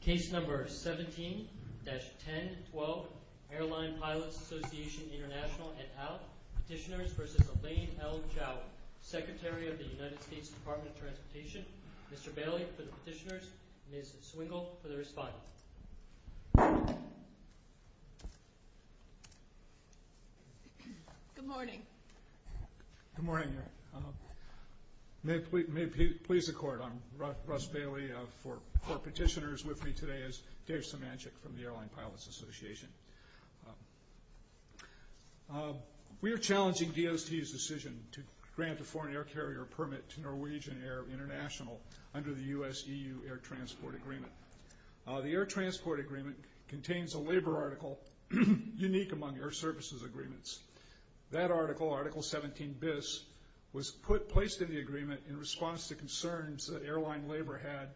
Case number 17-1012, Airline Pilots Association International et al. Petitioners v. Elaine L. Chao, Secretary of the United States Department of Transportation. Mr. Bailey for the petitioners, Ms. Swingle for the respondent. Good morning. Good morning. May it please the court, I'm Russ Bailey. Four petitioners with me today is Dave Symanczyk from the Airline Pilots Association. We are challenging DOST's decision to grant a foreign air carrier permit to Norwegian Air International under the U.S.-EU Air Transport Agreement. The Air Transport Agreement contains a labor article unique among air services agreements. That article, Article 17bis, was placed in the agreement in response to concerns that airline labor had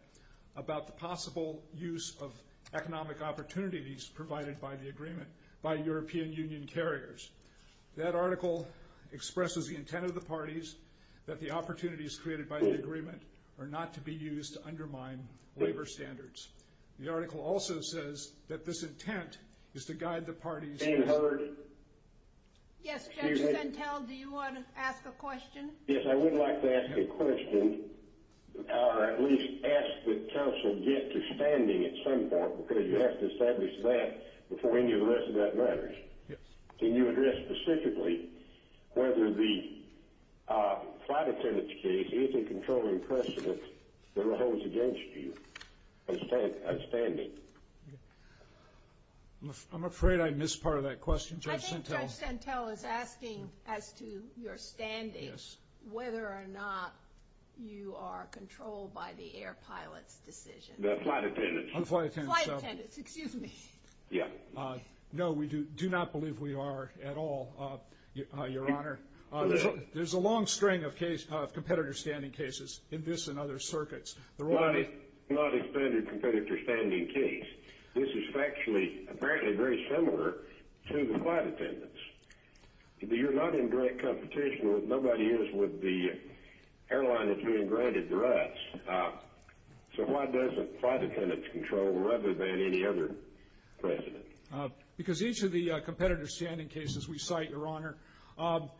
about the possible use of economic opportunities provided by the agreement by European Union carriers. That article expresses the intent of the parties that the opportunities created by the agreement are not to be used to undermine labor standards. The article also says that this intent is to guide the parties... Yes, Judge Santel, do you want to ask a question? Yes, I would like to ask a question, or at least ask that counsel get to standing at some point, because you have to establish that before any of the rest of that matters. Can you address specifically whether the flight attendant's case is a controlling precedent that holds against you a standing? I'm afraid I missed part of that question, Judge Santel. I think Judge Santel is asking as to your standing whether or not you are controlled by the air pilot's decision. The flight attendant's. The flight attendant's. The flight attendant's, excuse me. Yeah. No, we do not believe we are at all, Your Honor. There's a long string of competitor standing cases in this and other circuits. Your Honor, this is not a standard competitor standing case. This is factually, apparently very similar to the flight attendant's. You're not in direct competition. Nobody is with the airline that's being granted the rights. So why does the flight attendant's control rather than any other precedent? Because each of the competitor standing cases we cite, Your Honor,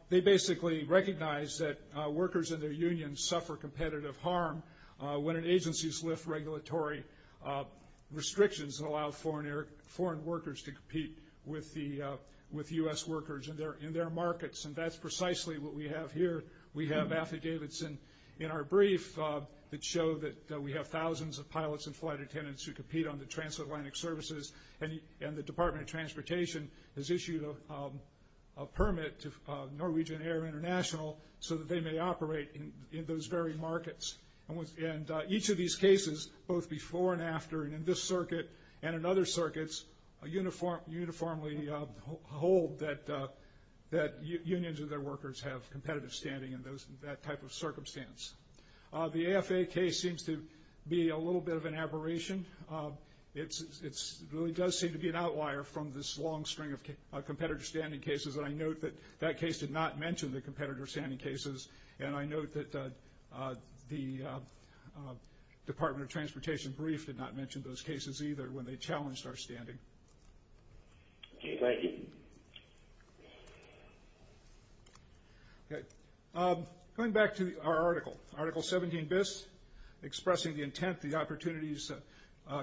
they basically recognize that workers in their unions suffer competitive harm when an agency's lift regulatory restrictions that allow foreign workers to compete with U.S. workers in their markets. And that's precisely what we have here. We have affidavits in our brief that show that we have thousands of pilots and flight attendants who compete on the transatlantic services, and the Department of Transportation has issued a permit to Norwegian Air International so that they may operate in those very markets. And each of these cases, both before and after and in this circuit and in other circuits, uniformly hold that unions and their workers have competitive standing in that type of circumstance. The AFA case seems to be a little bit of an aberration. It really does seem to be an outlier from this long string of competitor standing cases, and I note that that case did not mention the competitor standing cases, and I note that the Department of Transportation brief did not mention those cases either when they challenged our standing. Thank you. Going back to our article, Article 17bis, expressing the intent, the opportunities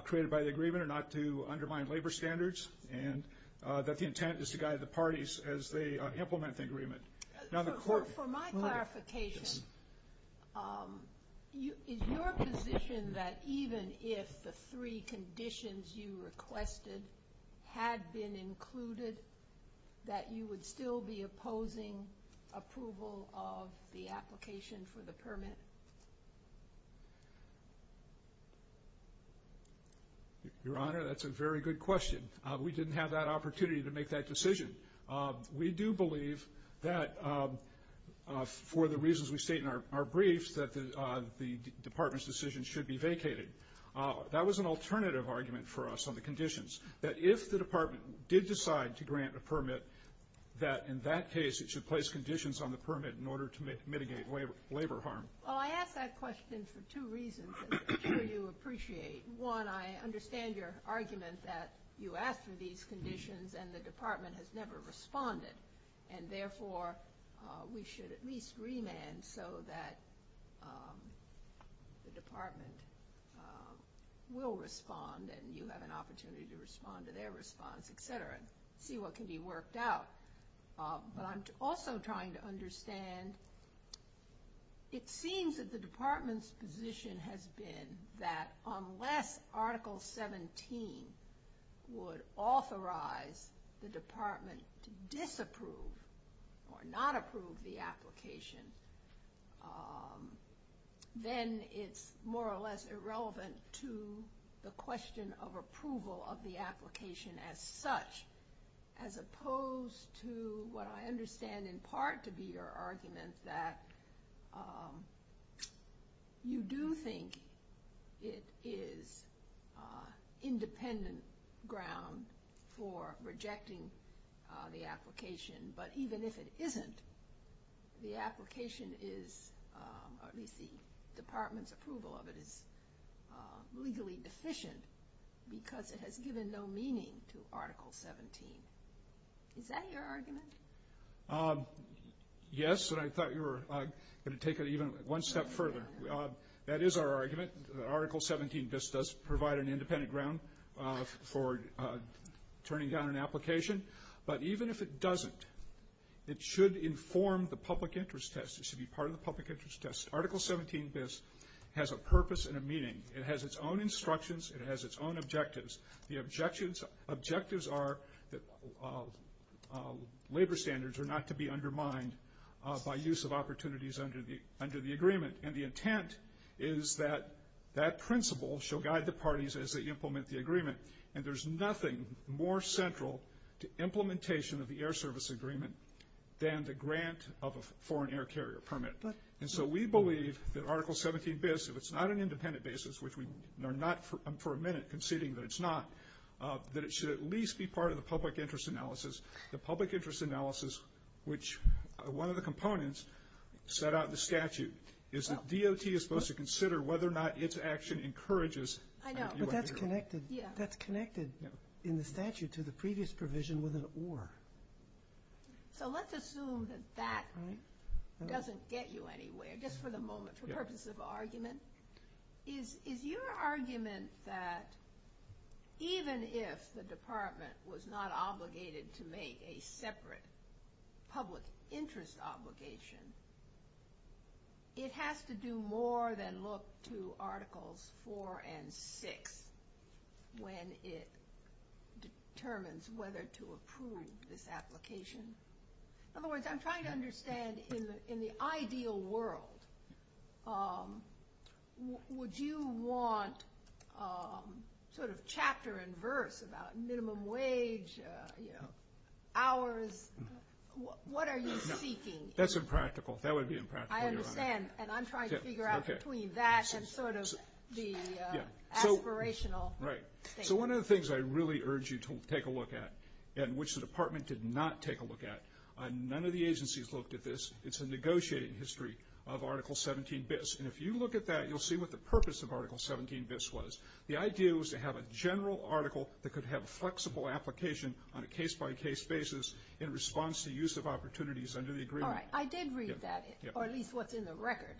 created by the agreement are not to undermine labor standards and that the intent is to guide the parties as they implement the agreement. For my clarification, is your position that even if the three conditions you requested had been included, that you would still be opposing approval of the application for the permit? Your Honor, that's a very good question. We didn't have that opportunity to make that decision. We do believe that for the reasons we state in our briefs, that the Department's decision should be vacated. That was an alternative argument for us on the conditions, that if the Department did decide to grant a permit, that in that case it should place conditions on the permit in order to mitigate labor harm. Well, I ask that question for two reasons that I'm sure you appreciate. One, I understand your argument that you asked for these conditions and the Department has never responded, and therefore we should at least remand so that the Department will respond and you have an opportunity to respond to their response, et cetera, and see what can be worked out. But I'm also trying to understand, it seems that the Department's position has been that unless Article 17 would authorize the Department to disapprove or not approve the application, then it's more or less irrelevant to the question of approval of the application as such, as opposed to what I understand in part to be your argument, that you do think it is independent ground for rejecting the application, but even if it isn't, the application is, at least the Department's approval of it, is legally deficient because it has given no meaning to Article 17. Is that your argument? Yes, and I thought you were going to take it even one step further. That is our argument. Article 17bis does provide an independent ground for turning down an application, but even if it doesn't, it should inform the public interest test. It should be part of the public interest test. Article 17bis has a purpose and a meaning. It has its own instructions. It has its own objectives. The objectives are that labor standards are not to be undermined by use of opportunities under the agreement, and the intent is that that principle shall guide the parties as they implement the agreement, and there's nothing more central to implementation of the Air Service Agreement than the grant of a foreign air carrier permit. And so we believe that Article 17bis, if it's not an independent basis, which we are not for a minute conceding that it's not, that it should at least be part of the public interest analysis. The public interest analysis, which one of the components set out in the statute, is that DOT is supposed to consider whether or not its action encourages U.S. approval. I know, but that's connected in the statute to the previous provision with an or. So let's assume that that doesn't get you anywhere. Just for the moment, for purpose of argument, is your argument that even if the Department was not obligated to make a separate public interest obligation, it has to do more than look to Articles 4 and 6 when it determines whether to approve this application? In other words, I'm trying to understand in the ideal world, would you want sort of chapter and verse about minimum wage, hours, what are you seeking? That's impractical. That would be impractical, Your Honor. I understand, and I'm trying to figure out between that and sort of the aspirational thing. So one of the things I really urge you to take a look at, and which the Department did not take a look at, none of the agencies looked at this. It's a negotiating history of Article 17bis. And if you look at that, you'll see what the purpose of Article 17bis was. The idea was to have a general article that could have a flexible application on a case-by-case basis in response to use of opportunities under the agreement. All right. I did read that, or at least what's in the record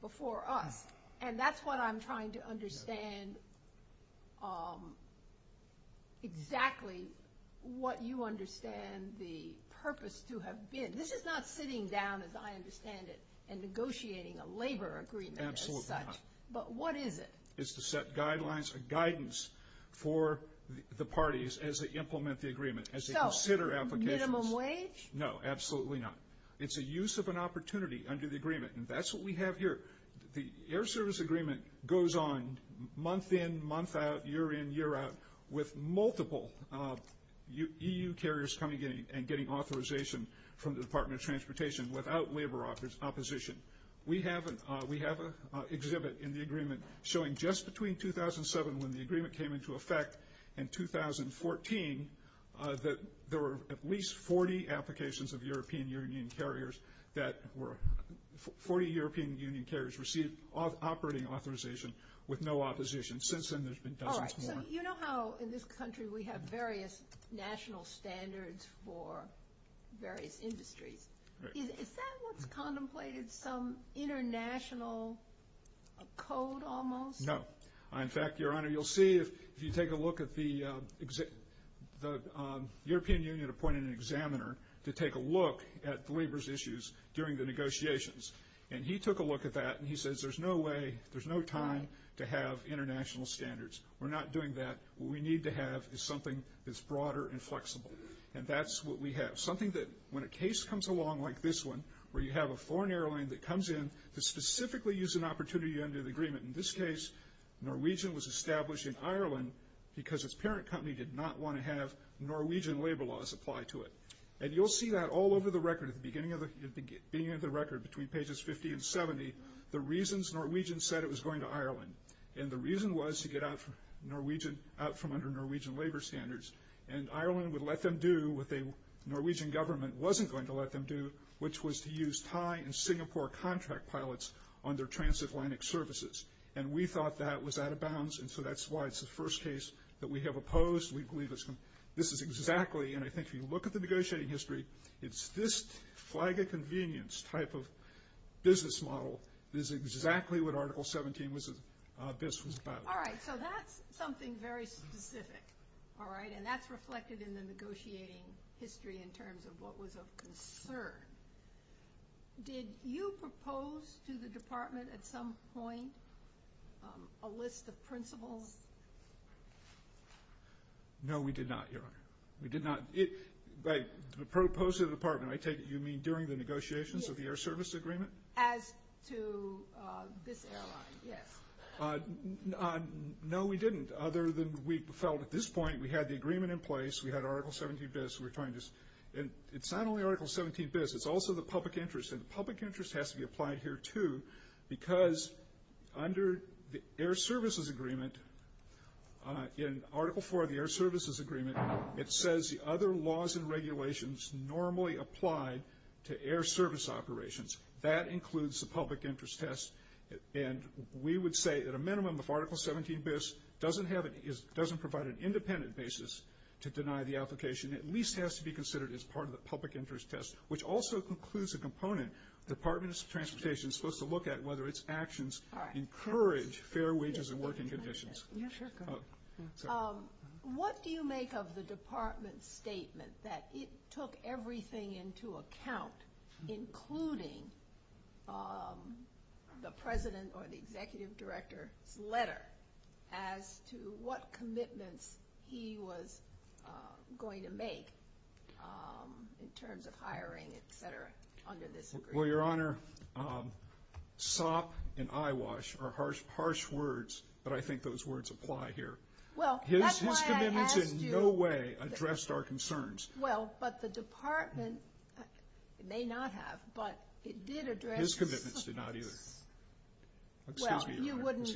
before us, and that's what I'm trying to understand exactly what you understand the purpose to have been. This is not sitting down, as I understand it, and negotiating a labor agreement as such. Absolutely not. But what is it? Minimum wage? No, absolutely not. It's a use of an opportunity under the agreement, and that's what we have here. The Air Service Agreement goes on month in, month out, year in, year out, with multiple EU carriers coming in and getting authorization from the Department of Transportation without labor opposition. We have an exhibit in the agreement showing just between 2007, when the agreement came into effect, and 2014 that there were at least 40 applications of European Union carriers that were 40 European Union carriers received operating authorization with no opposition. Since then, there's been dozens more. All right. So you know how in this country we have various national standards for various industries. Is that what's contemplated some international code almost? No. In fact, Your Honor, you'll see if you take a look at the European Union appointed an examiner to take a look at the labor's issues during the negotiations, and he took a look at that, and he says there's no way, there's no time to have international standards. We're not doing that. What we need to have is something that's broader and flexible, and that's what we have. Something that when a case comes along like this one where you have a foreign airline that comes in to specifically use an opportunity under the agreement, in this case, Norwegian was established in Ireland because its parent company did not want to have Norwegian labor laws apply to it. And you'll see that all over the record at the beginning of the record between pages 50 and 70, the reasons Norwegians said it was going to Ireland. And the reason was to get out from under Norwegian labor standards, and Ireland would let them do what the Norwegian government wasn't going to let them do, which was to use Thai and Singapore contract pilots on their transatlantic services. And we thought that was out of bounds, and so that's why it's the first case that we have opposed. This is exactly, and I think if you look at the negotiating history, it's this flag of convenience type of business model is exactly what Article 17 was about. All right, so that's something very specific. All right, and that's reflected in the negotiating history in terms of what was of concern. Did you propose to the department at some point a list of principles? No, we did not, Your Honor. We did not. By propose to the department, I take it you mean during the negotiations of the air service agreement? As to this airline, yes. No, we didn't, other than we felt at this point we had the agreement in place, we had Article 17bis, and it's not only Article 17bis. It's also the public interest, and the public interest has to be applied here, too, because under the air services agreement, in Article 4 of the air services agreement, it says the other laws and regulations normally applied to air service operations. That includes the public interest test, and we would say at a minimum if Article 17bis doesn't provide an independent basis to deny the application, it at least has to be considered as part of the public interest test, which also includes a component the Department of Transportation is supposed to look at, whether its actions encourage fair wages and working conditions. What do you make of the department's statement that it took everything into account, including the president or the executive director's letter, as to what commitments he was going to make in terms of hiring, et cetera, under this agreement? Well, Your Honor, sop and eyewash are harsh words, but I think those words apply here. His commitments in no way addressed our concerns. Well, but the department may not have, but it did address his. His commitments did not either. Well, you wouldn't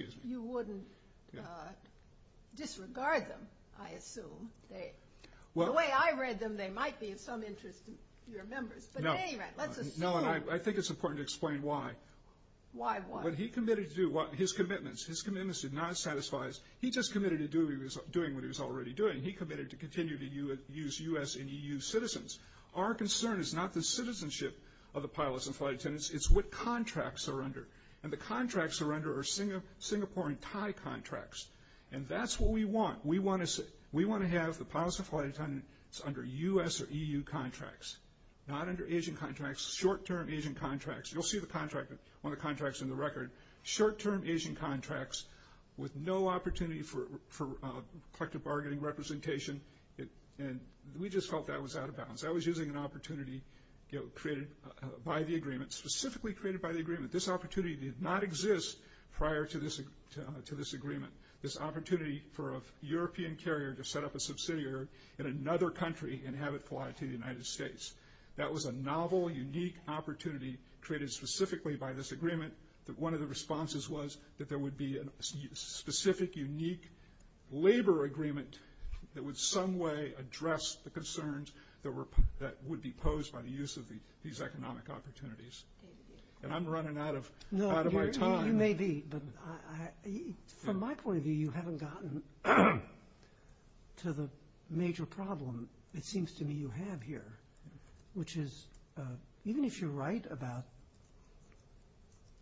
disregard them, I assume. The way I read them, they might be of some interest to your members. But at any rate, let's assume. No, and I think it's important to explain why. Why what? What he committed to do, his commitments, his commitments did not satisfy us. He just committed to doing what he was already doing. He committed to continue to use U.S. and EU citizens. Our concern is not the citizenship of the pilots and flight attendants. It's what contracts are under. And the contracts they're under are Singapore and Thai contracts. And that's what we want. We want to have the pilots and flight attendants under U.S. or EU contracts, not under Asian contracts, short-term Asian contracts. You'll see the contract on the contracts in the record. Short-term Asian contracts with no opportunity for collective bargaining representation. And we just felt that was out of bounds. That was using an opportunity created by the agreement, specifically created by the agreement. This opportunity did not exist prior to this agreement, this opportunity for a European carrier to set up a subsidiary in another country and have it fly to the United States. That was a novel, unique opportunity created specifically by this agreement that one of the responses was that there would be a specific, unique labor agreement that would some way address the concerns that would be posed by the use of these economic opportunities. And I'm running out of my time. You may be, but from my point of view, you haven't gotten to the major problem, it seems to me you have here, which is even if you write about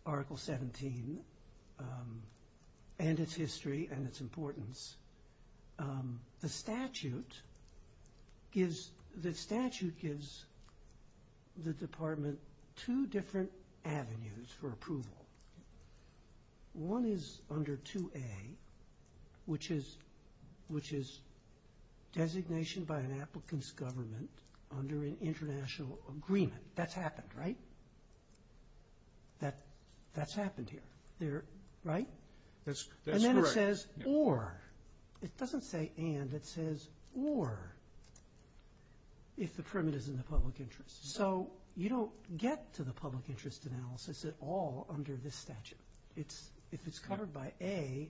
Article 17 and its history and its importance, the statute gives the department two different avenues for approval. One is under 2A, which is designation by an applicant's government under an international agreement. That's happened, right? That's happened here, right? And then it says or. It doesn't say and. It says or if the permit is in the public interest. So you don't get to the public interest analysis at all under this statute. If it's covered by A,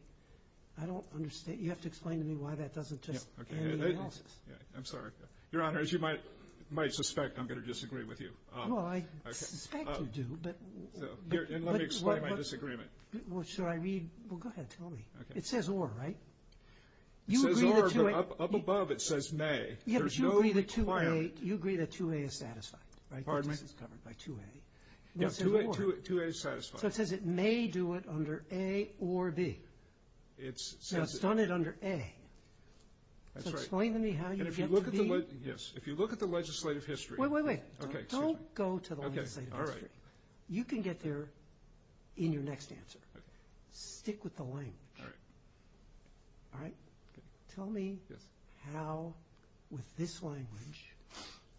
I don't understand. You have to explain to me why that doesn't just end the analysis. I'm sorry. Your Honor, as you might suspect, I'm going to disagree with you. Well, I suspect you do. And let me explain my disagreement. Should I read? Well, go ahead. Tell me. It says or, right? It says or, but up above it says may. Yeah, but you agree that 2A is satisfied, right? This is covered by 2A. Yeah, 2A is satisfied. So it says it may do it under A or B. Now, it's done it under A. So explain to me how you get to B. And if you look at the legislative history. Wait, wait, wait. Don't go to the legislative history. You can get there in your next answer. Stick with the language. All right. Tell me how, with this language,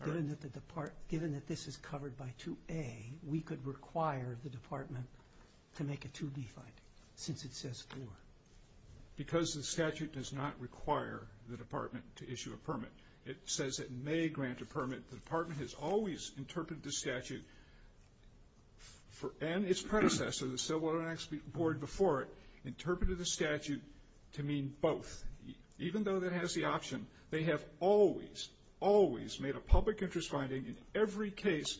given that this is covered by 2A, we could require the Department to make a 2B finding since it says or. Because the statute does not require the Department to issue a permit. It says it may grant a permit. The Department has always interpreted the statute and its predecessor, or the Civil Rights Board before it, interpreted the statute to mean both. Even though that has the option, they have always, always made a public interest finding in every case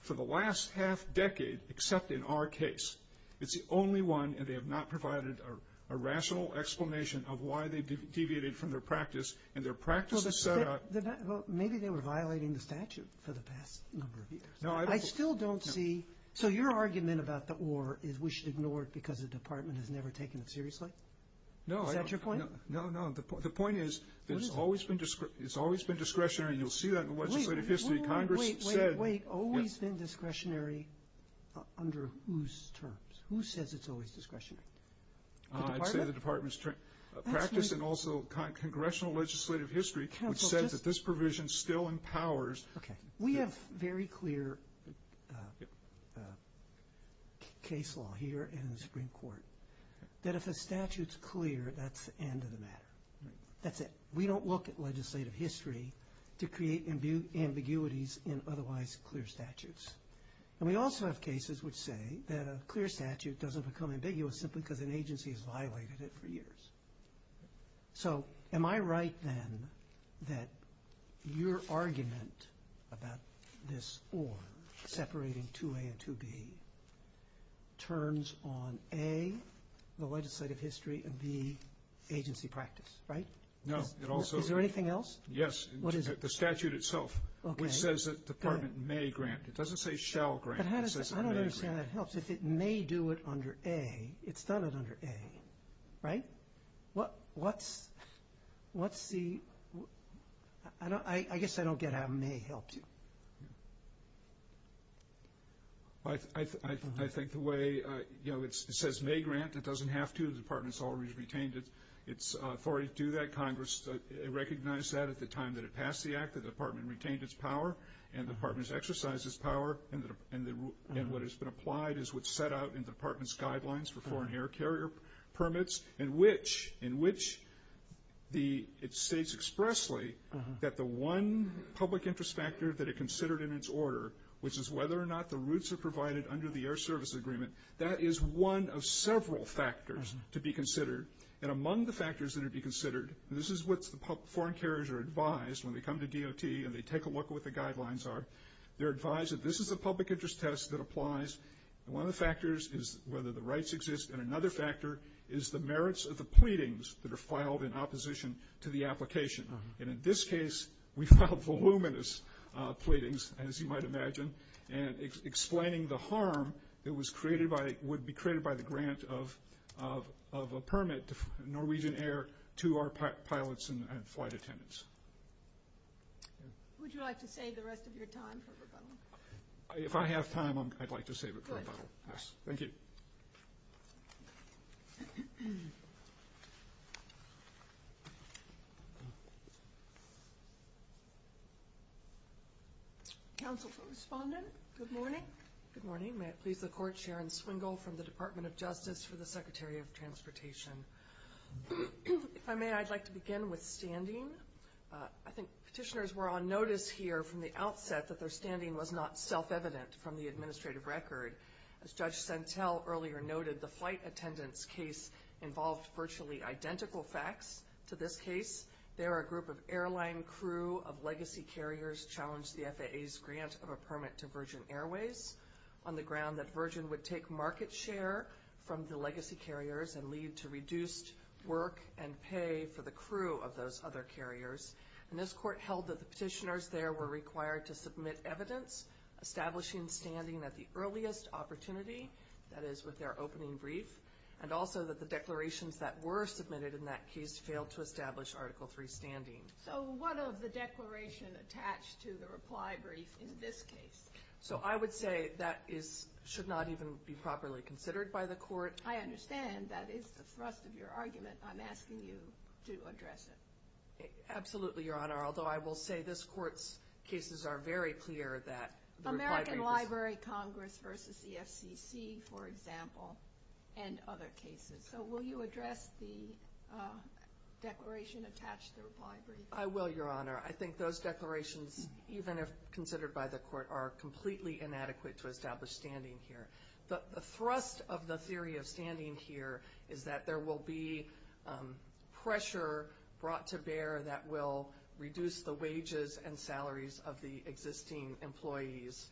for the last half decade except in our case. It's the only one, and they have not provided a rational explanation of why they deviated from their practice. And their practice is set up. Well, maybe they were violating the statute for the past number of years. I still don't see. So your argument about the or is we should ignore it because the Department has never taken it seriously? No. Is that your point? No, no. The point is that it's always been discretionary, and you'll see that in the legislative history. Congress said. Wait, wait, wait. Always been discretionary under whose terms? Who says it's always discretionary? The Department? I'd say the Department's practice and also Congressional legislative history which says that this provision still empowers. Okay. We have very clear case law here in the Supreme Court that if a statute's clear, that's the end of the matter. That's it. We don't look at legislative history to create ambiguities in otherwise clear statutes. And we also have cases which say that a clear statute doesn't become ambiguous simply because an agency has violated it for years. So am I right then that your argument about this or separating 2A and 2B turns on A, the legislative history, and B, agency practice, right? No. Is there anything else? Yes. What is it? The statute itself which says that the Department may grant. It doesn't say shall grant. It says it may grant. I don't understand how that helps. If it may do it under A, it's done it under A, right? Let's see. I guess I don't get how it may help you. I think the way it says may grant. It doesn't have to. The Department's already retained its authority to do that. Congress recognized that at the time that it passed the Act. The Department retained its power and the Department's exercised its power. And what has been applied is what's set out in the Department's guidelines for foreign air carrier permits in which it states expressly that the one public interest factor that it considered in its order, which is whether or not the routes are provided under the Air Service Agreement, that is one of several factors to be considered. And among the factors that are to be considered, and this is what foreign carriers are advised when they come to DOT and they take a look at what the guidelines are, they're advised that this is a public interest test that applies. And one of the factors is whether the rights exist, and another factor is the merits of the pleadings that are filed in opposition to the application. And in this case, we filed voluminous pleadings, as you might imagine, and explaining the harm that would be created by the grant of a permit, Norwegian Air, to our pilots and flight attendants. Would you like to save the rest of your time for rebuttal? If I have time, I'd like to save it for rebuttal. Yes, thank you. Counsel for Respondent, good morning. Good morning. May it please the Court, Sharon Swingle from the Department of Justice for the Secretary of Transportation. If I may, I'd like to begin with standing. I think petitioners were on notice here from the outset that their standing was not self-evident from the administrative record. As Judge Sentell earlier noted, the flight attendant's case involved virtually identical facts to this case. There, a group of airline crew of legacy carriers challenged the FAA's grant of a permit to Virgin Airways on the ground that Virgin would take market share from the legacy carriers and lead to reduced work and pay for the crew of those other carriers. And this Court held that the petitioners there were required to submit evidence establishing standing at the earliest opportunity, that is with their opening brief, and also that the declarations that were submitted in that case failed to establish Article III standing. So what of the declaration attached to the reply brief in this case? So I would say that should not even be properly considered by the Court. I understand that is the thrust of your argument. I'm asking you to address it. Absolutely, Your Honor. Although I will say this Court's cases are very clear that the reply brief is- American Library Congress versus the FCC, for example, and other cases. So will you address the declaration attached to the reply brief? I will, Your Honor. I think those declarations, even if considered by the Court, are completely inadequate to establish standing here. The thrust of the theory of standing here is that there will be pressure brought to bear that will reduce the wages and salaries of the existing employees.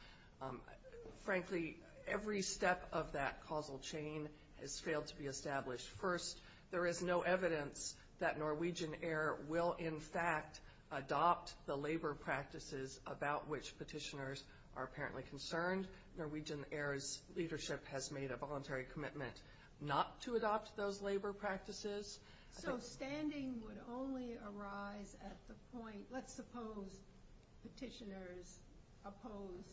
Frankly, every step of that causal chain has failed to be established. First, there is no evidence that Norwegian Air will, in fact, adopt the labor practices about which petitioners are apparently concerned. Norwegian Air's leadership has made a voluntary commitment not to adopt those labor practices. So standing would only arise at the point, let's suppose petitioners oppose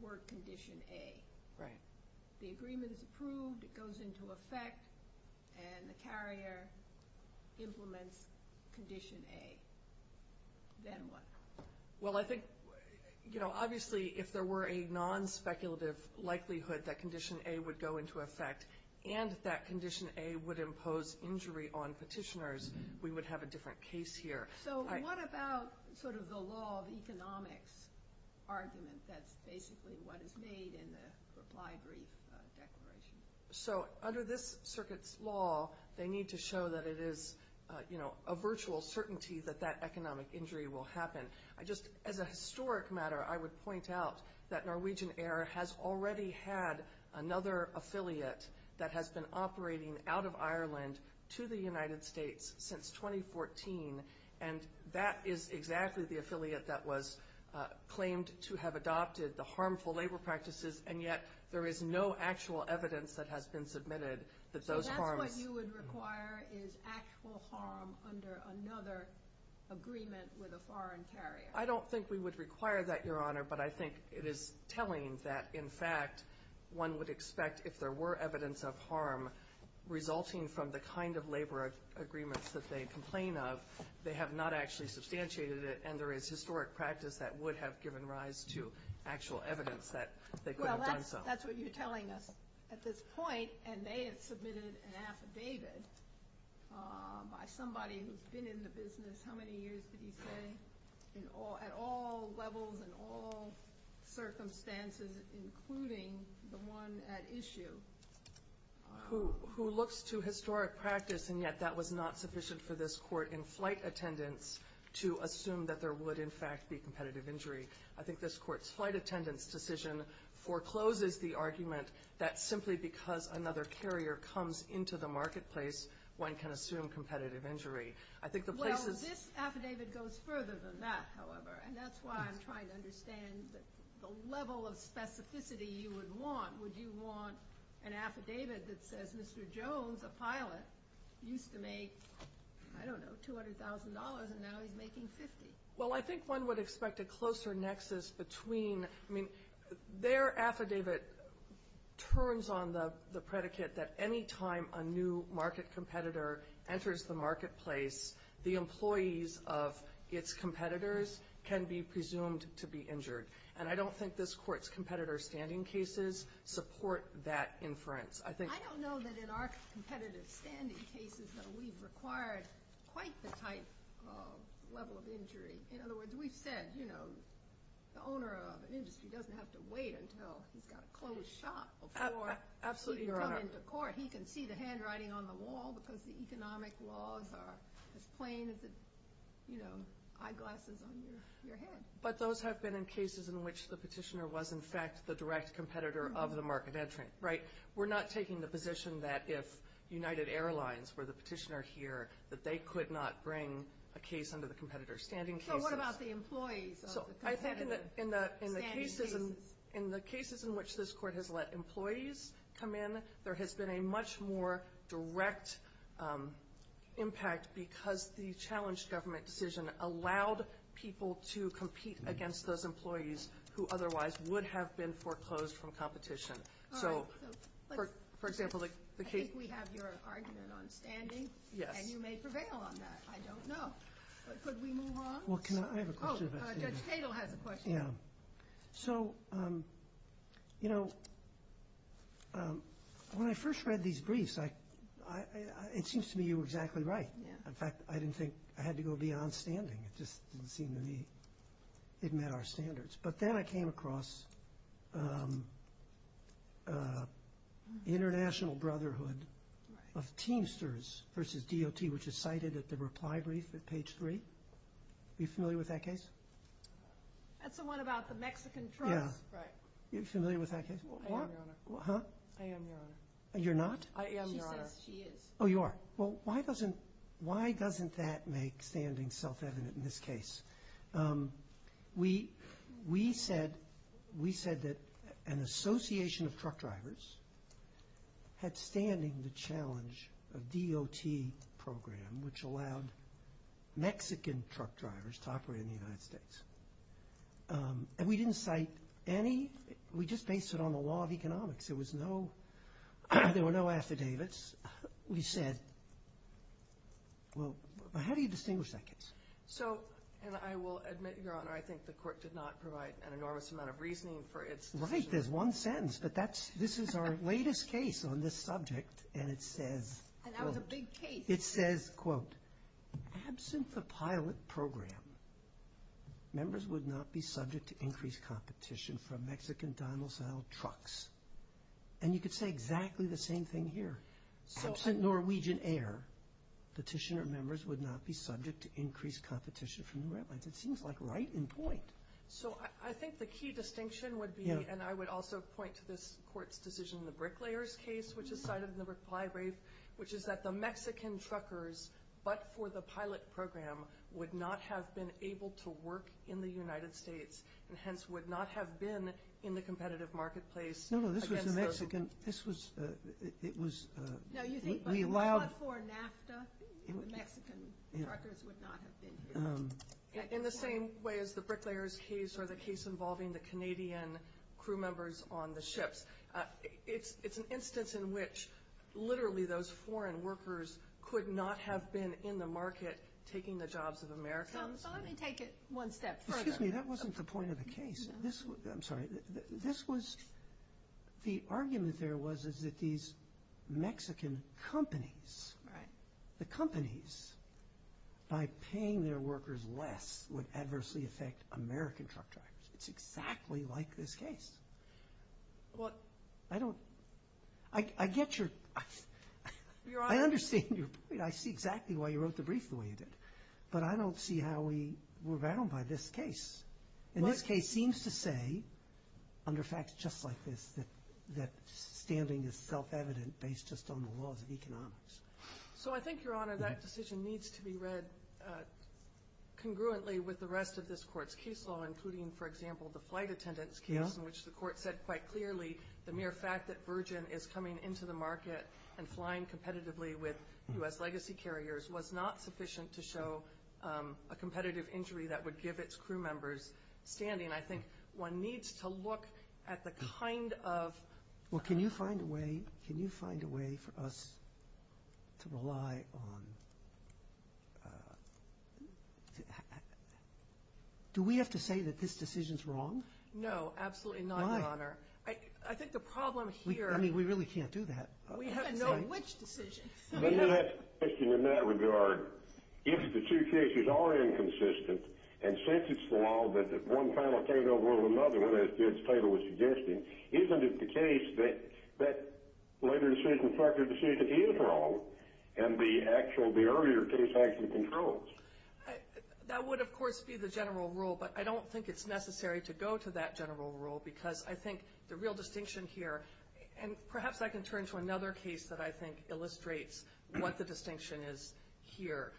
work condition A. Right. The agreement is approved, it goes into effect, and the carrier implements condition A. Then what? Well, I think obviously if there were a non-speculative likelihood that condition A would go into effect and that condition A would impose injury on petitioners, we would have a different case here. So what about sort of the law of economics argument that's basically what is made in the reply brief declaration? So under this circuit's law, they need to show that it is a virtual certainty that that economic injury will happen. Just as a historic matter, I would point out that Norwegian Air has already had another affiliate that has been operating out of Ireland to the United States since 2014, and that is exactly the affiliate that was claimed to have adopted the harmful labor practices, and yet there is no actual evidence that has been submitted that those harms. So what you would require is actual harm under another agreement with a foreign carrier. I don't think we would require that, Your Honor, but I think it is telling that, in fact, one would expect if there were evidence of harm resulting from the kind of labor agreements that they complain of, they have not actually substantiated it, and there is historic practice that would have given rise to actual evidence that they could have done so. Well, that's what you're telling us at this point, and they have submitted an affidavit by somebody who's been in the business, how many years did he say, at all levels and all circumstances, including the one at issue. Who looks to historic practice, and yet that was not sufficient for this court in flight attendance to assume that there would, in fact, be competitive injury. simply because another carrier comes into the marketplace, one can assume competitive injury. Well, this affidavit goes further than that, however, and that's why I'm trying to understand the level of specificity you would want. Would you want an affidavit that says Mr. Jones, a pilot, used to make, I don't know, $200,000, and now he's making $50,000? Well, I think one would expect a closer nexus between, I mean, their affidavit turns on the predicate that any time a new market competitor enters the marketplace, the employees of its competitors can be presumed to be injured, and I don't think this court's competitor standing cases support that inference. I don't know that in our competitor standing cases, though, we've required quite the type of level of injury. In other words, we've said the owner of an industry doesn't have to wait until he's got a closed shop before he can come into court. He can see the handwriting on the wall because the economic laws are as plain as the eyeglasses on your head. But those have been in cases in which the petitioner was, in fact, the direct competitor of the market entering, right? We're not taking the position that if United Airlines were the petitioner here, that they could not bring a case under the competitor standing cases. So what about the employees of the competitor standing cases? So I think in the cases in which this court has let employees come in, there has been a much more direct impact because the challenged government decision allowed people to compete against those employees who otherwise would have been foreclosed from competition. All right. I think we have your argument on standing. Yes. And you may prevail on that. I don't know. But could we move on? Well, can I? I have a question about standing. Oh, Judge Tatel has a question. Yeah. So, you know, when I first read these briefs, it seems to me you were exactly right. In fact, I didn't think I had to go beyond standing. It just didn't seem to me it met our standards. But then I came across International Brotherhood of Teamsters versus DOT, which is cited at the reply brief at page three. Are you familiar with that case? That's the one about the Mexican trucks. Yeah. Right. Are you familiar with that case? I am, Your Honor. Huh? I am, Your Honor. You're not? I am, Your Honor. She says she is. Oh, you are. Well, why doesn't that make standing self-evident in this case? We said that an association of truck drivers had standing the challenge of DOT program, which allowed Mexican truck drivers to operate in the United States. And we didn't cite any. We just based it on the law of economics. There were no affidavits. We said, well, how do you distinguish that case? So, and I will admit, Your Honor, I think the court did not provide an enormous amount of reasoning for its decision. Right. There's one sentence. But this is our latest case on this subject, and it says, quote. And that was a big case. It says, quote, absent the pilot program, members would not be subject to increased competition from Mexican dynostyle trucks. And you could say exactly the same thing here. Absent Norwegian air, petitioner members would not be subject to increased competition from the red lights. It seems like right in point. So I think the key distinction would be, and I would also point to this court's decision in the bricklayers case, which is cited in the reply brief, which is that the Mexican truckers, but for the pilot program, would not have been able to work in the United States, and hence would not have been in the competitive marketplace. No, no, this was the Mexican. This was, it was. No, you think, but not for NAFTA. The Mexican truckers would not have been here. In the same way as the bricklayers case, or the case involving the Canadian crew members on the ships. It's an instance in which literally those foreign workers could not have been in the market taking the jobs of Americans. So let me take it one step further. Excuse me, that wasn't the point of the case. This was, I'm sorry, this was, the argument there was that these Mexican companies, the companies, by paying their workers less, would adversely affect American truck drivers. It's exactly like this case. I don't, I get your, I understand your point. I see exactly why you wrote the brief the way you did. But I don't see how we were rattled by this case. And this case seems to say, under facts just like this, that standing is self-evident based just on the laws of economics. So I think, Your Honor, that decision needs to be read congruently with the rest of this court's case law, including, for example, the flight attendants case, in which the court said quite clearly the mere fact that Virgin is coming into the market and flying competitively with U.S. legacy carriers was not sufficient to show a competitive injury that would give its crew members standing. I think one needs to look at the kind of... Well, can you find a way, can you find a way for us to rely on... Do we have to say that this decision's wrong? No, absolutely not, Your Honor. Why? I think the problem here... I mean, we really can't do that. We have no which decision. Let me ask you a question in that regard. If the two cases are inconsistent, and since it's the law that one final case overruled another, as the title was suggesting, isn't it the case that that later decision, factor decision is wrong, and the earlier case actually controls? That would, of course, be the general rule, but I don't think it's necessary to go to that general rule because I think the real distinction here... And perhaps I can turn to another case that I think illustrates what the distinction is here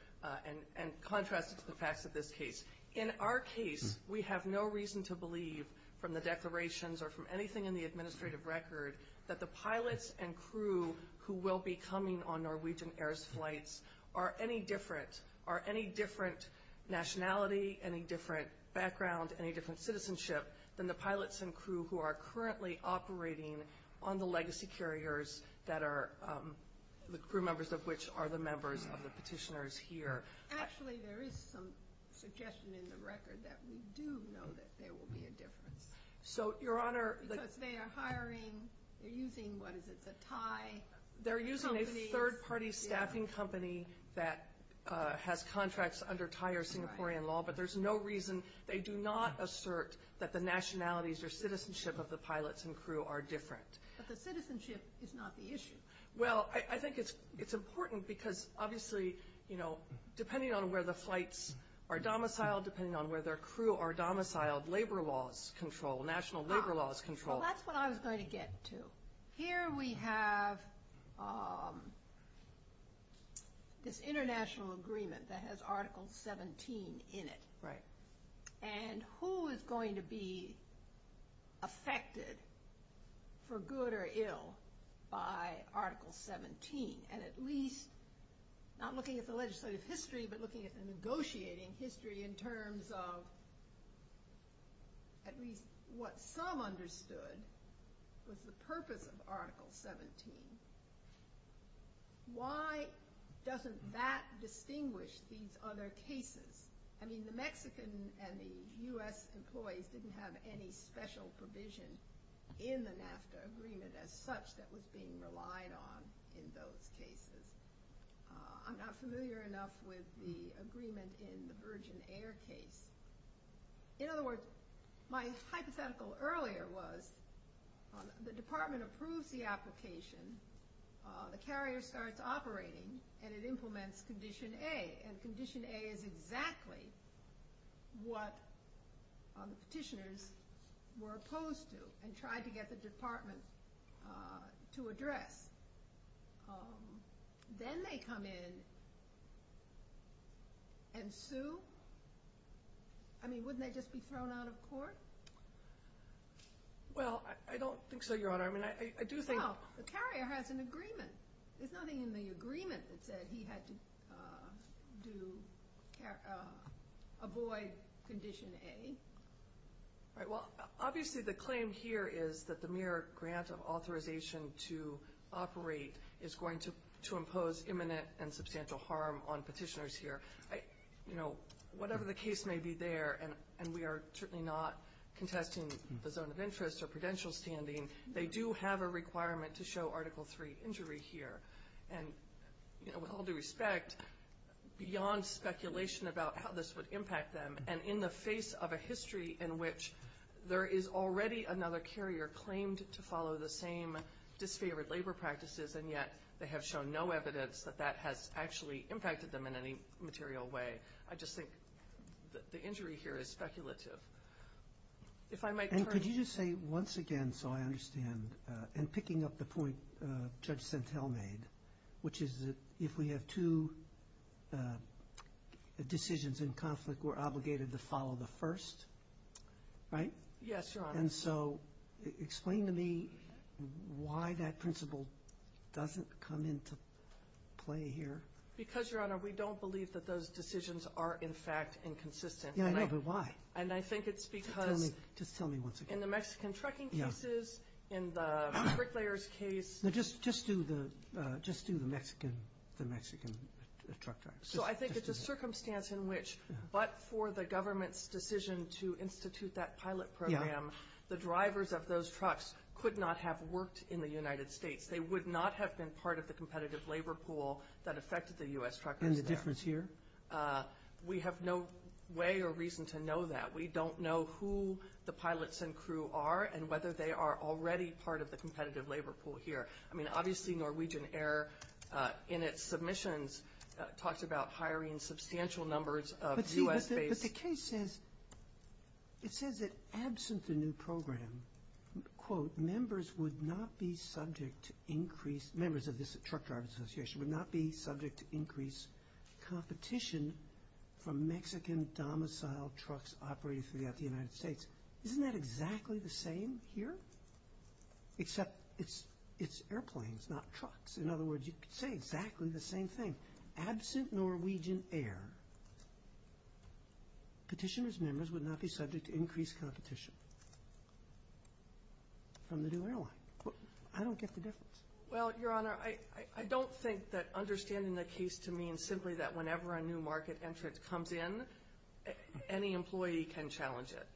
and contrast it to the facts of this case. In our case, we have no reason to believe, from the declarations or from anything in the administrative record, that the pilots and crew who will be coming on Norwegian Air's flights are any different, are any different nationality, any different background, any different citizenship than the pilots and crew who are currently operating on the legacy carriers, the crew members of which are the members of the petitioners here. Actually, there is some suggestion in the record that we do know that there will be a difference. So, Your Honor... Because they are hiring, they're using, what is it, the Thai companies. They're using a third-party staffing company that has contracts under Thai or Singaporean law, but there's no reason, they do not assert that the nationalities or citizenship of the pilots and crew are different. But the citizenship is not the issue. Well, I think it's important because, obviously, depending on where the flights are domiciled, depending on where their crew are domiciled, labor laws control, national labor laws control. Well, that's what I was going to get to. Here we have this international agreement that has Article 17 in it. Right. And who is going to be affected, for good or ill, by Article 17? And at least, not looking at the legislative history, but looking at the negotiating history in terms of at least what some understood was the purpose of Article 17. Why doesn't that distinguish these other cases? I mean, the Mexican and the U.S. employees didn't have any special provision in the NAFTA agreement as such that was being relied on in those cases. I'm not familiar enough with the agreement in the Virgin Air case. In other words, my hypothetical earlier was, the department approves the application, the carrier starts operating, and it implements Condition A. And Condition A is exactly what the petitioners were opposed to and tried to get the department to address. Then they come in and sue? I mean, wouldn't they just be thrown out of court? Well, I don't think so, Your Honor. Well, the carrier has an agreement. There's nothing in the agreement that said he had to avoid Condition A. Well, obviously the claim here is that the mere grant of authorization to operate is going to impose imminent and substantial harm on petitioners here. Whatever the case may be there, and we are certainly not contesting the zone of interest or prudential standing, they do have a requirement to show Article III injury here. And with all due respect, beyond speculation about how this would impact them, and in the face of a history in which there is already another carrier claimed to follow the same disfavored labor practices, and yet they have shown no evidence that that has actually impacted them in any material way, I just think the injury here is speculative. And could you just say once again, so I understand, and picking up the point Judge Sentell made, which is that if we have two decisions in conflict, we're obligated to follow the first, right? Yes, Your Honor. And so explain to me why that principle doesn't come into play here. Because, Your Honor, we don't believe that those decisions are, in fact, inconsistent. Yeah, I know, but why? And I think it's because in the Mexican trucking cases, in the bricklayers case. No, just do the Mexican truck drivers. So I think it's a circumstance in which, but for the government's decision to institute that pilot program, the drivers of those trucks could not have worked in the United States. They would not have been part of the competitive labor pool that affected the U.S. truckers there. And the difference here? We have no way or reason to know that. We don't know who the pilots and crew are and whether they are already part of the competitive labor pool here. I mean, obviously, Norwegian Air, in its submissions, talks about hiring substantial numbers of U.S.-based. But the case says, it says that absent a new program, quote, members would not be subject to increased, members of this Truck Drivers Association would not be subject to increased competition from Mexican domiciled trucks operating throughout the United States. Isn't that exactly the same here? Except it's airplanes, not trucks. In other words, you could say exactly the same thing. Absent Norwegian Air, petitioner's members would not be subject to increased competition from the new airline. I don't get the difference. Well, Your Honor, I don't think that understanding the case to mean simply that whenever a new market entrant comes in, any employee can challenge it.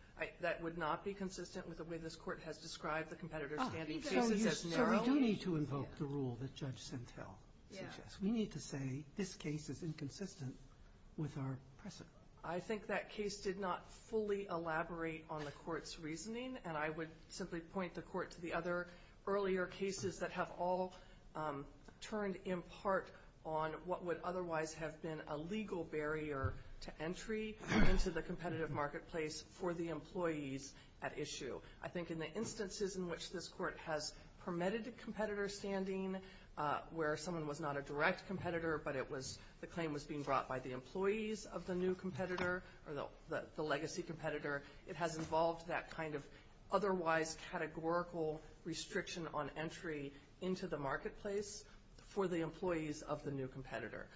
That would not be consistent with the way this Court has described the competitor's standing cases as narrow. So we do need to invoke the rule that Judge Sentil suggests. We need to say this case is inconsistent with our precedent. I think that case did not fully elaborate on the Court's reasoning, and I would simply point the Court to the other earlier cases that have all turned in part on what would otherwise have been a legal barrier to entry into the competitive marketplace for the employees at issue. I think in the instances in which this Court has permitted competitor standing, where someone was not a direct competitor but the claim was being brought by the employees of the new competitor or the legacy competitor, it has involved that kind of otherwise categorical restriction on entry into the marketplace for the employees of the new competitor.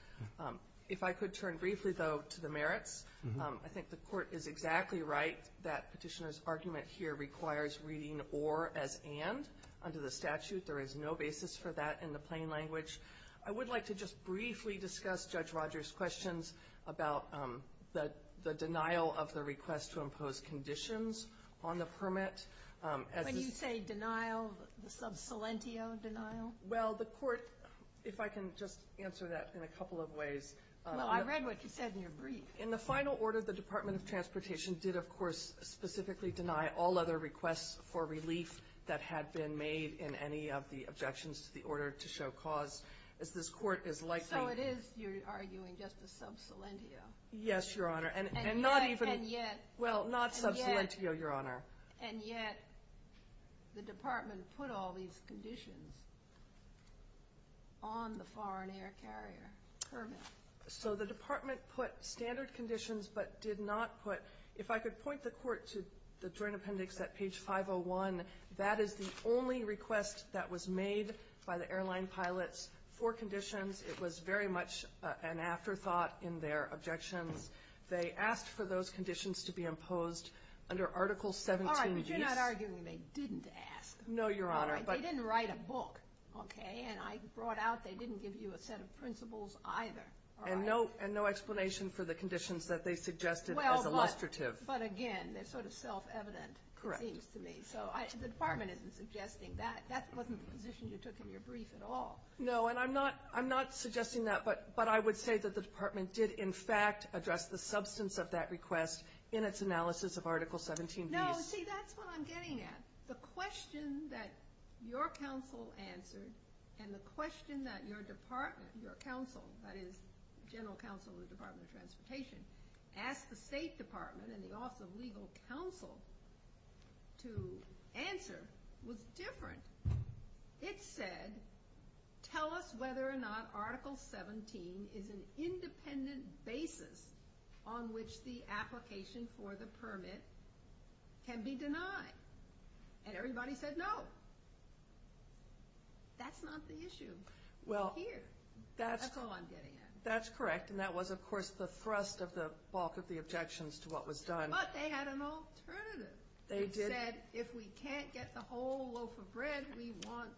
If I could turn briefly, though, to the merits. I think the Court is exactly right that petitioner's argument here requires reading or as and under the statute. There is no basis for that in the plain language. I would like to just briefly discuss Judge Rogers' questions about the denial of the request to impose conditions on the permit. When you say denial, the sub salentio denial? Well, the Court, if I can just answer that in a couple of ways. Well, I read what you said in your brief. In the final order, the Department of Transportation did, of course, specifically deny all other requests for relief that had been made in any of the objections to the order to show cause, as this Court is likely. So it is, you're arguing, just a sub salentio? Yes, Your Honor, and not even. And yet. Well, not sub salentio, Your Honor. And yet the Department put all these conditions on the foreign air carrier permit. So the Department put standard conditions but did not put. If I could point the Court to the joint appendix at page 501, that is the only request that was made by the airline pilots for conditions. It was very much an afterthought in their objections. They asked for those conditions to be imposed under Article 17. All right, but you're not arguing they didn't ask. No, Your Honor. They didn't write a book, okay, and I brought out they didn't give you a set of principles either. And no explanation for the conditions that they suggested as illustrative. But, again, they're sort of self-evident, it seems to me. So the Department isn't suggesting that. That wasn't the position you took in your brief at all. No, and I'm not suggesting that, but I would say that the Department did in fact address the substance of that request in its analysis of Article 17b. No, see, that's what I'm getting at. The question that your counsel answered and the question that your department, your counsel, that is General Counsel of the Department of Transportation, asked the State Department and the Office of Legal Counsel to answer was different. It said, tell us whether or not Article 17 is an independent basis on which the application for the permit can be denied. And everybody said no. That's not the issue here. That's all I'm getting at. That's correct. And that was, of course, the thrust of the bulk of the objections to what was done. But they had an alternative. They did. They said, if we can't get the whole loaf of bread, we want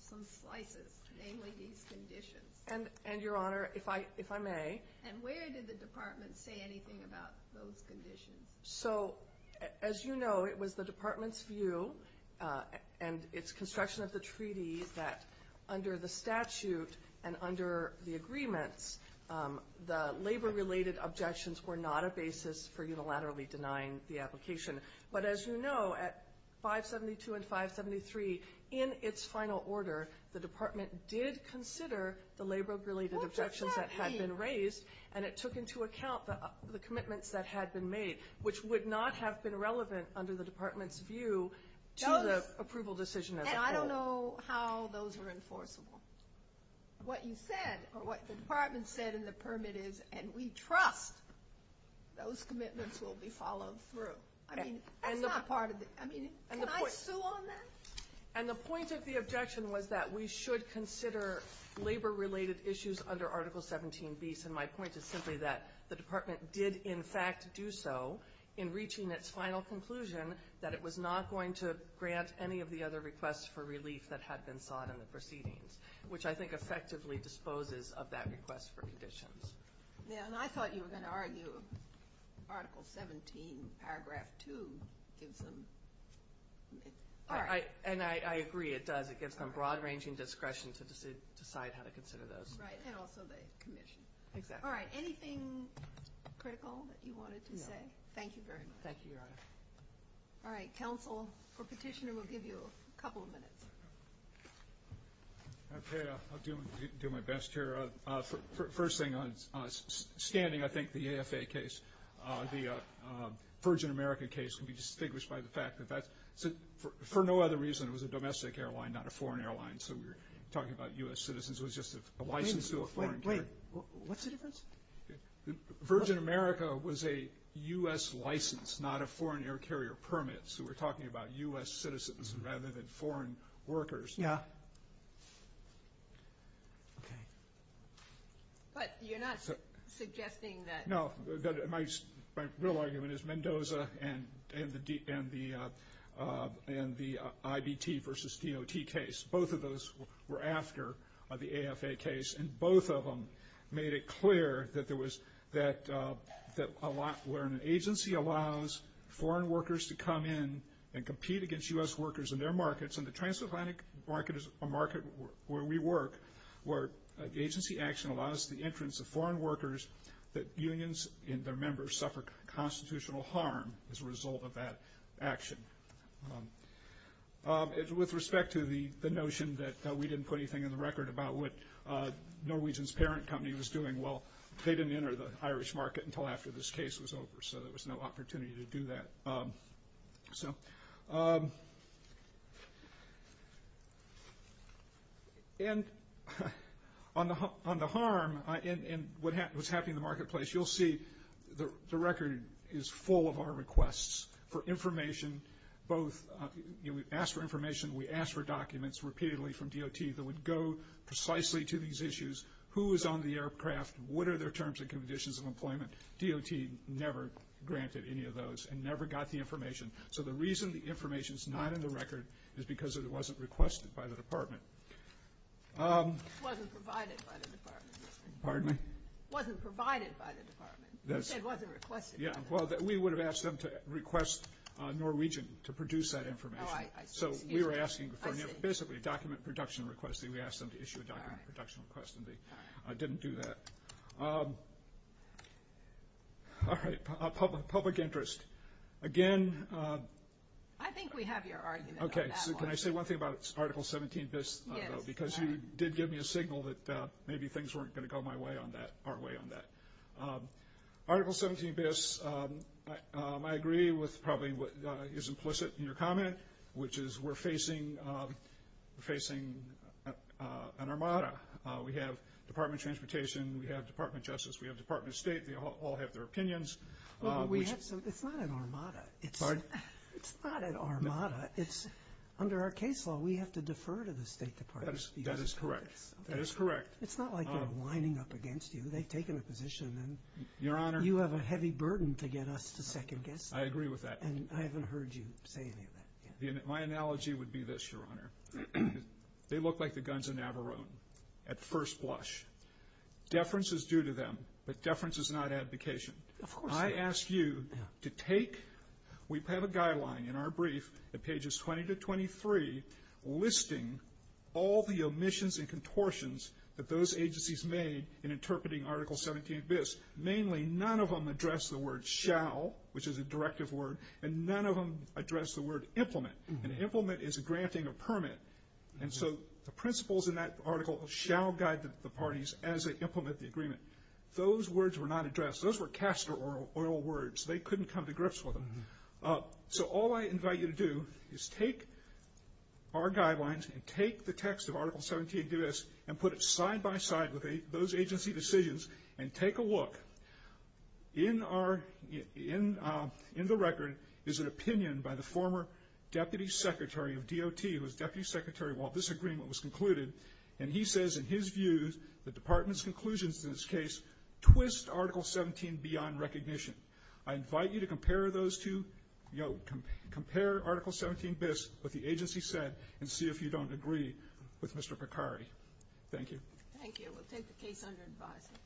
some slices, namely these conditions. And, Your Honor, if I may. And where did the Department say anything about those conditions? So, as you know, it was the Department's view, and it's construction of the treaty, that under the statute and under the agreements, the labor-related objections were not a basis for unilaterally denying the application. But, as you know, at 572 and 573, in its final order, the Department did consider the labor-related objections that had been raised, and it took into account the commitments that had been made, which would not have been relevant under the Department's view to the approval decision as a whole. And I don't know how those are enforceable. What you said, or what the Department said in the permit is, and we trust those commitments will be followed through. I mean, that's not part of the – I mean, can I sue on that? And the point of the objection was that we should consider labor-related issues under Article 17b. And my point is simply that the Department did, in fact, do so in reaching its final conclusion that it was not going to grant any of the other requests for relief that had been sought in the proceedings, which I think effectively disposes of that request for conditions. Yeah, and I thought you were going to argue Article 17, Paragraph 2 gives them – And I agree it does. It gives them broad-ranging discretion to decide how to consider those. Right, and also the commission. Exactly. All right, anything critical that you wanted to say? No. Thank you very much. Thank you, Your Honor. All right, counsel or petitioner, we'll give you a couple of minutes. Okay, I'll do my best here. First thing, on standing, I think the AFA case, the Virgin American case, can be distinguished by the fact that that's – for no other reason, it was a domestic airline, not a foreign airline, so we're talking about U.S. citizens. It was just a license to a foreign carrier. Wait, what's the difference? Virgin America was a U.S. license, not a foreign air carrier permit, so we're talking about U.S. citizens rather than foreign workers. Okay. But you're not suggesting that – No, my real argument is Mendoza and the IBT versus DOT case. Both of those were after the AFA case, and both of them made it clear that there was – that a lot – where an agency allows foreign workers to come in and compete against U.S. workers in their markets, and the transatlantic market is a market where we work, where agency action allows the entrance of foreign workers, that unions and their members suffer constitutional harm as a result of that action. With respect to the notion that we didn't put anything in the record about what Norwegian's parent company was doing, well, they didn't enter the Irish market until after this case was over, so there was no opportunity to do that. So – And on the harm and what's happening in the marketplace, you'll see the record is full of our requests for information, both – you know, we asked for information, we asked for documents repeatedly from DOT that would go precisely to these issues. Who was on the aircraft? What are their terms and conditions of employment? DOT never granted any of those and never got the information. So the reason the information's not in the record is because it wasn't requested by the department. It wasn't provided by the department. Pardon me? It wasn't provided by the department. You said it wasn't requested by the department. Yeah, well, we would have asked them to request Norwegian to produce that information. Oh, I see. So we were asking for basically a document production request, and we asked them to issue a document production request, and they didn't do that. All right, public interest. Again – I think we have your argument on that one. Okay, so can I say one thing about Article 17bis, though? Yes. Because you did give me a signal that maybe things weren't going to go my way on that – our way on that. Article 17bis, I agree with probably what is implicit in your comment, which is we're facing an armada. We have Department of Transportation, we have Department of Justice, we have Department of State, they all have their opinions. Well, it's not an armada. Pardon? It's not an armada. Under our case law, we have to defer to the State Department. That is correct. That is correct. It's not like they're lining up against you. They've taken a position, and you have a heavy burden to get us to second-guess them. I agree with that. And I haven't heard you say any of that yet. My analogy would be this, Your Honor. They look like the guns in Navarone at first blush. Deference is due to them, but deference is not advocation. Of course not. I ask you to take – we have a guideline in our brief at pages 20 to 23 listing all the omissions and contortions that those agencies made in interpreting Article 17bis. Mainly, none of them address the word shall, which is a directive word, and none of them address the word implement. And implement is granting a permit. And so the principles in that article shall guide the parties as they implement the agreement. Those words were not addressed. Those were castor oil words. They couldn't come to grips with them. So all I invite you to do is take our guidelines and take the text of Article 17bis and put it side-by-side with those agency decisions and take a look. In the record is an opinion by the former Deputy Secretary of DOT, who was Deputy Secretary while this agreement was concluded, and he says in his view the department's conclusions in this case twist Article 17 beyond recognition. I invite you to compare those two, compare Article 17bis with the agency said, and see if you don't agree with Mr. Picari. Thank you. Thank you. We'll take the case under advisement.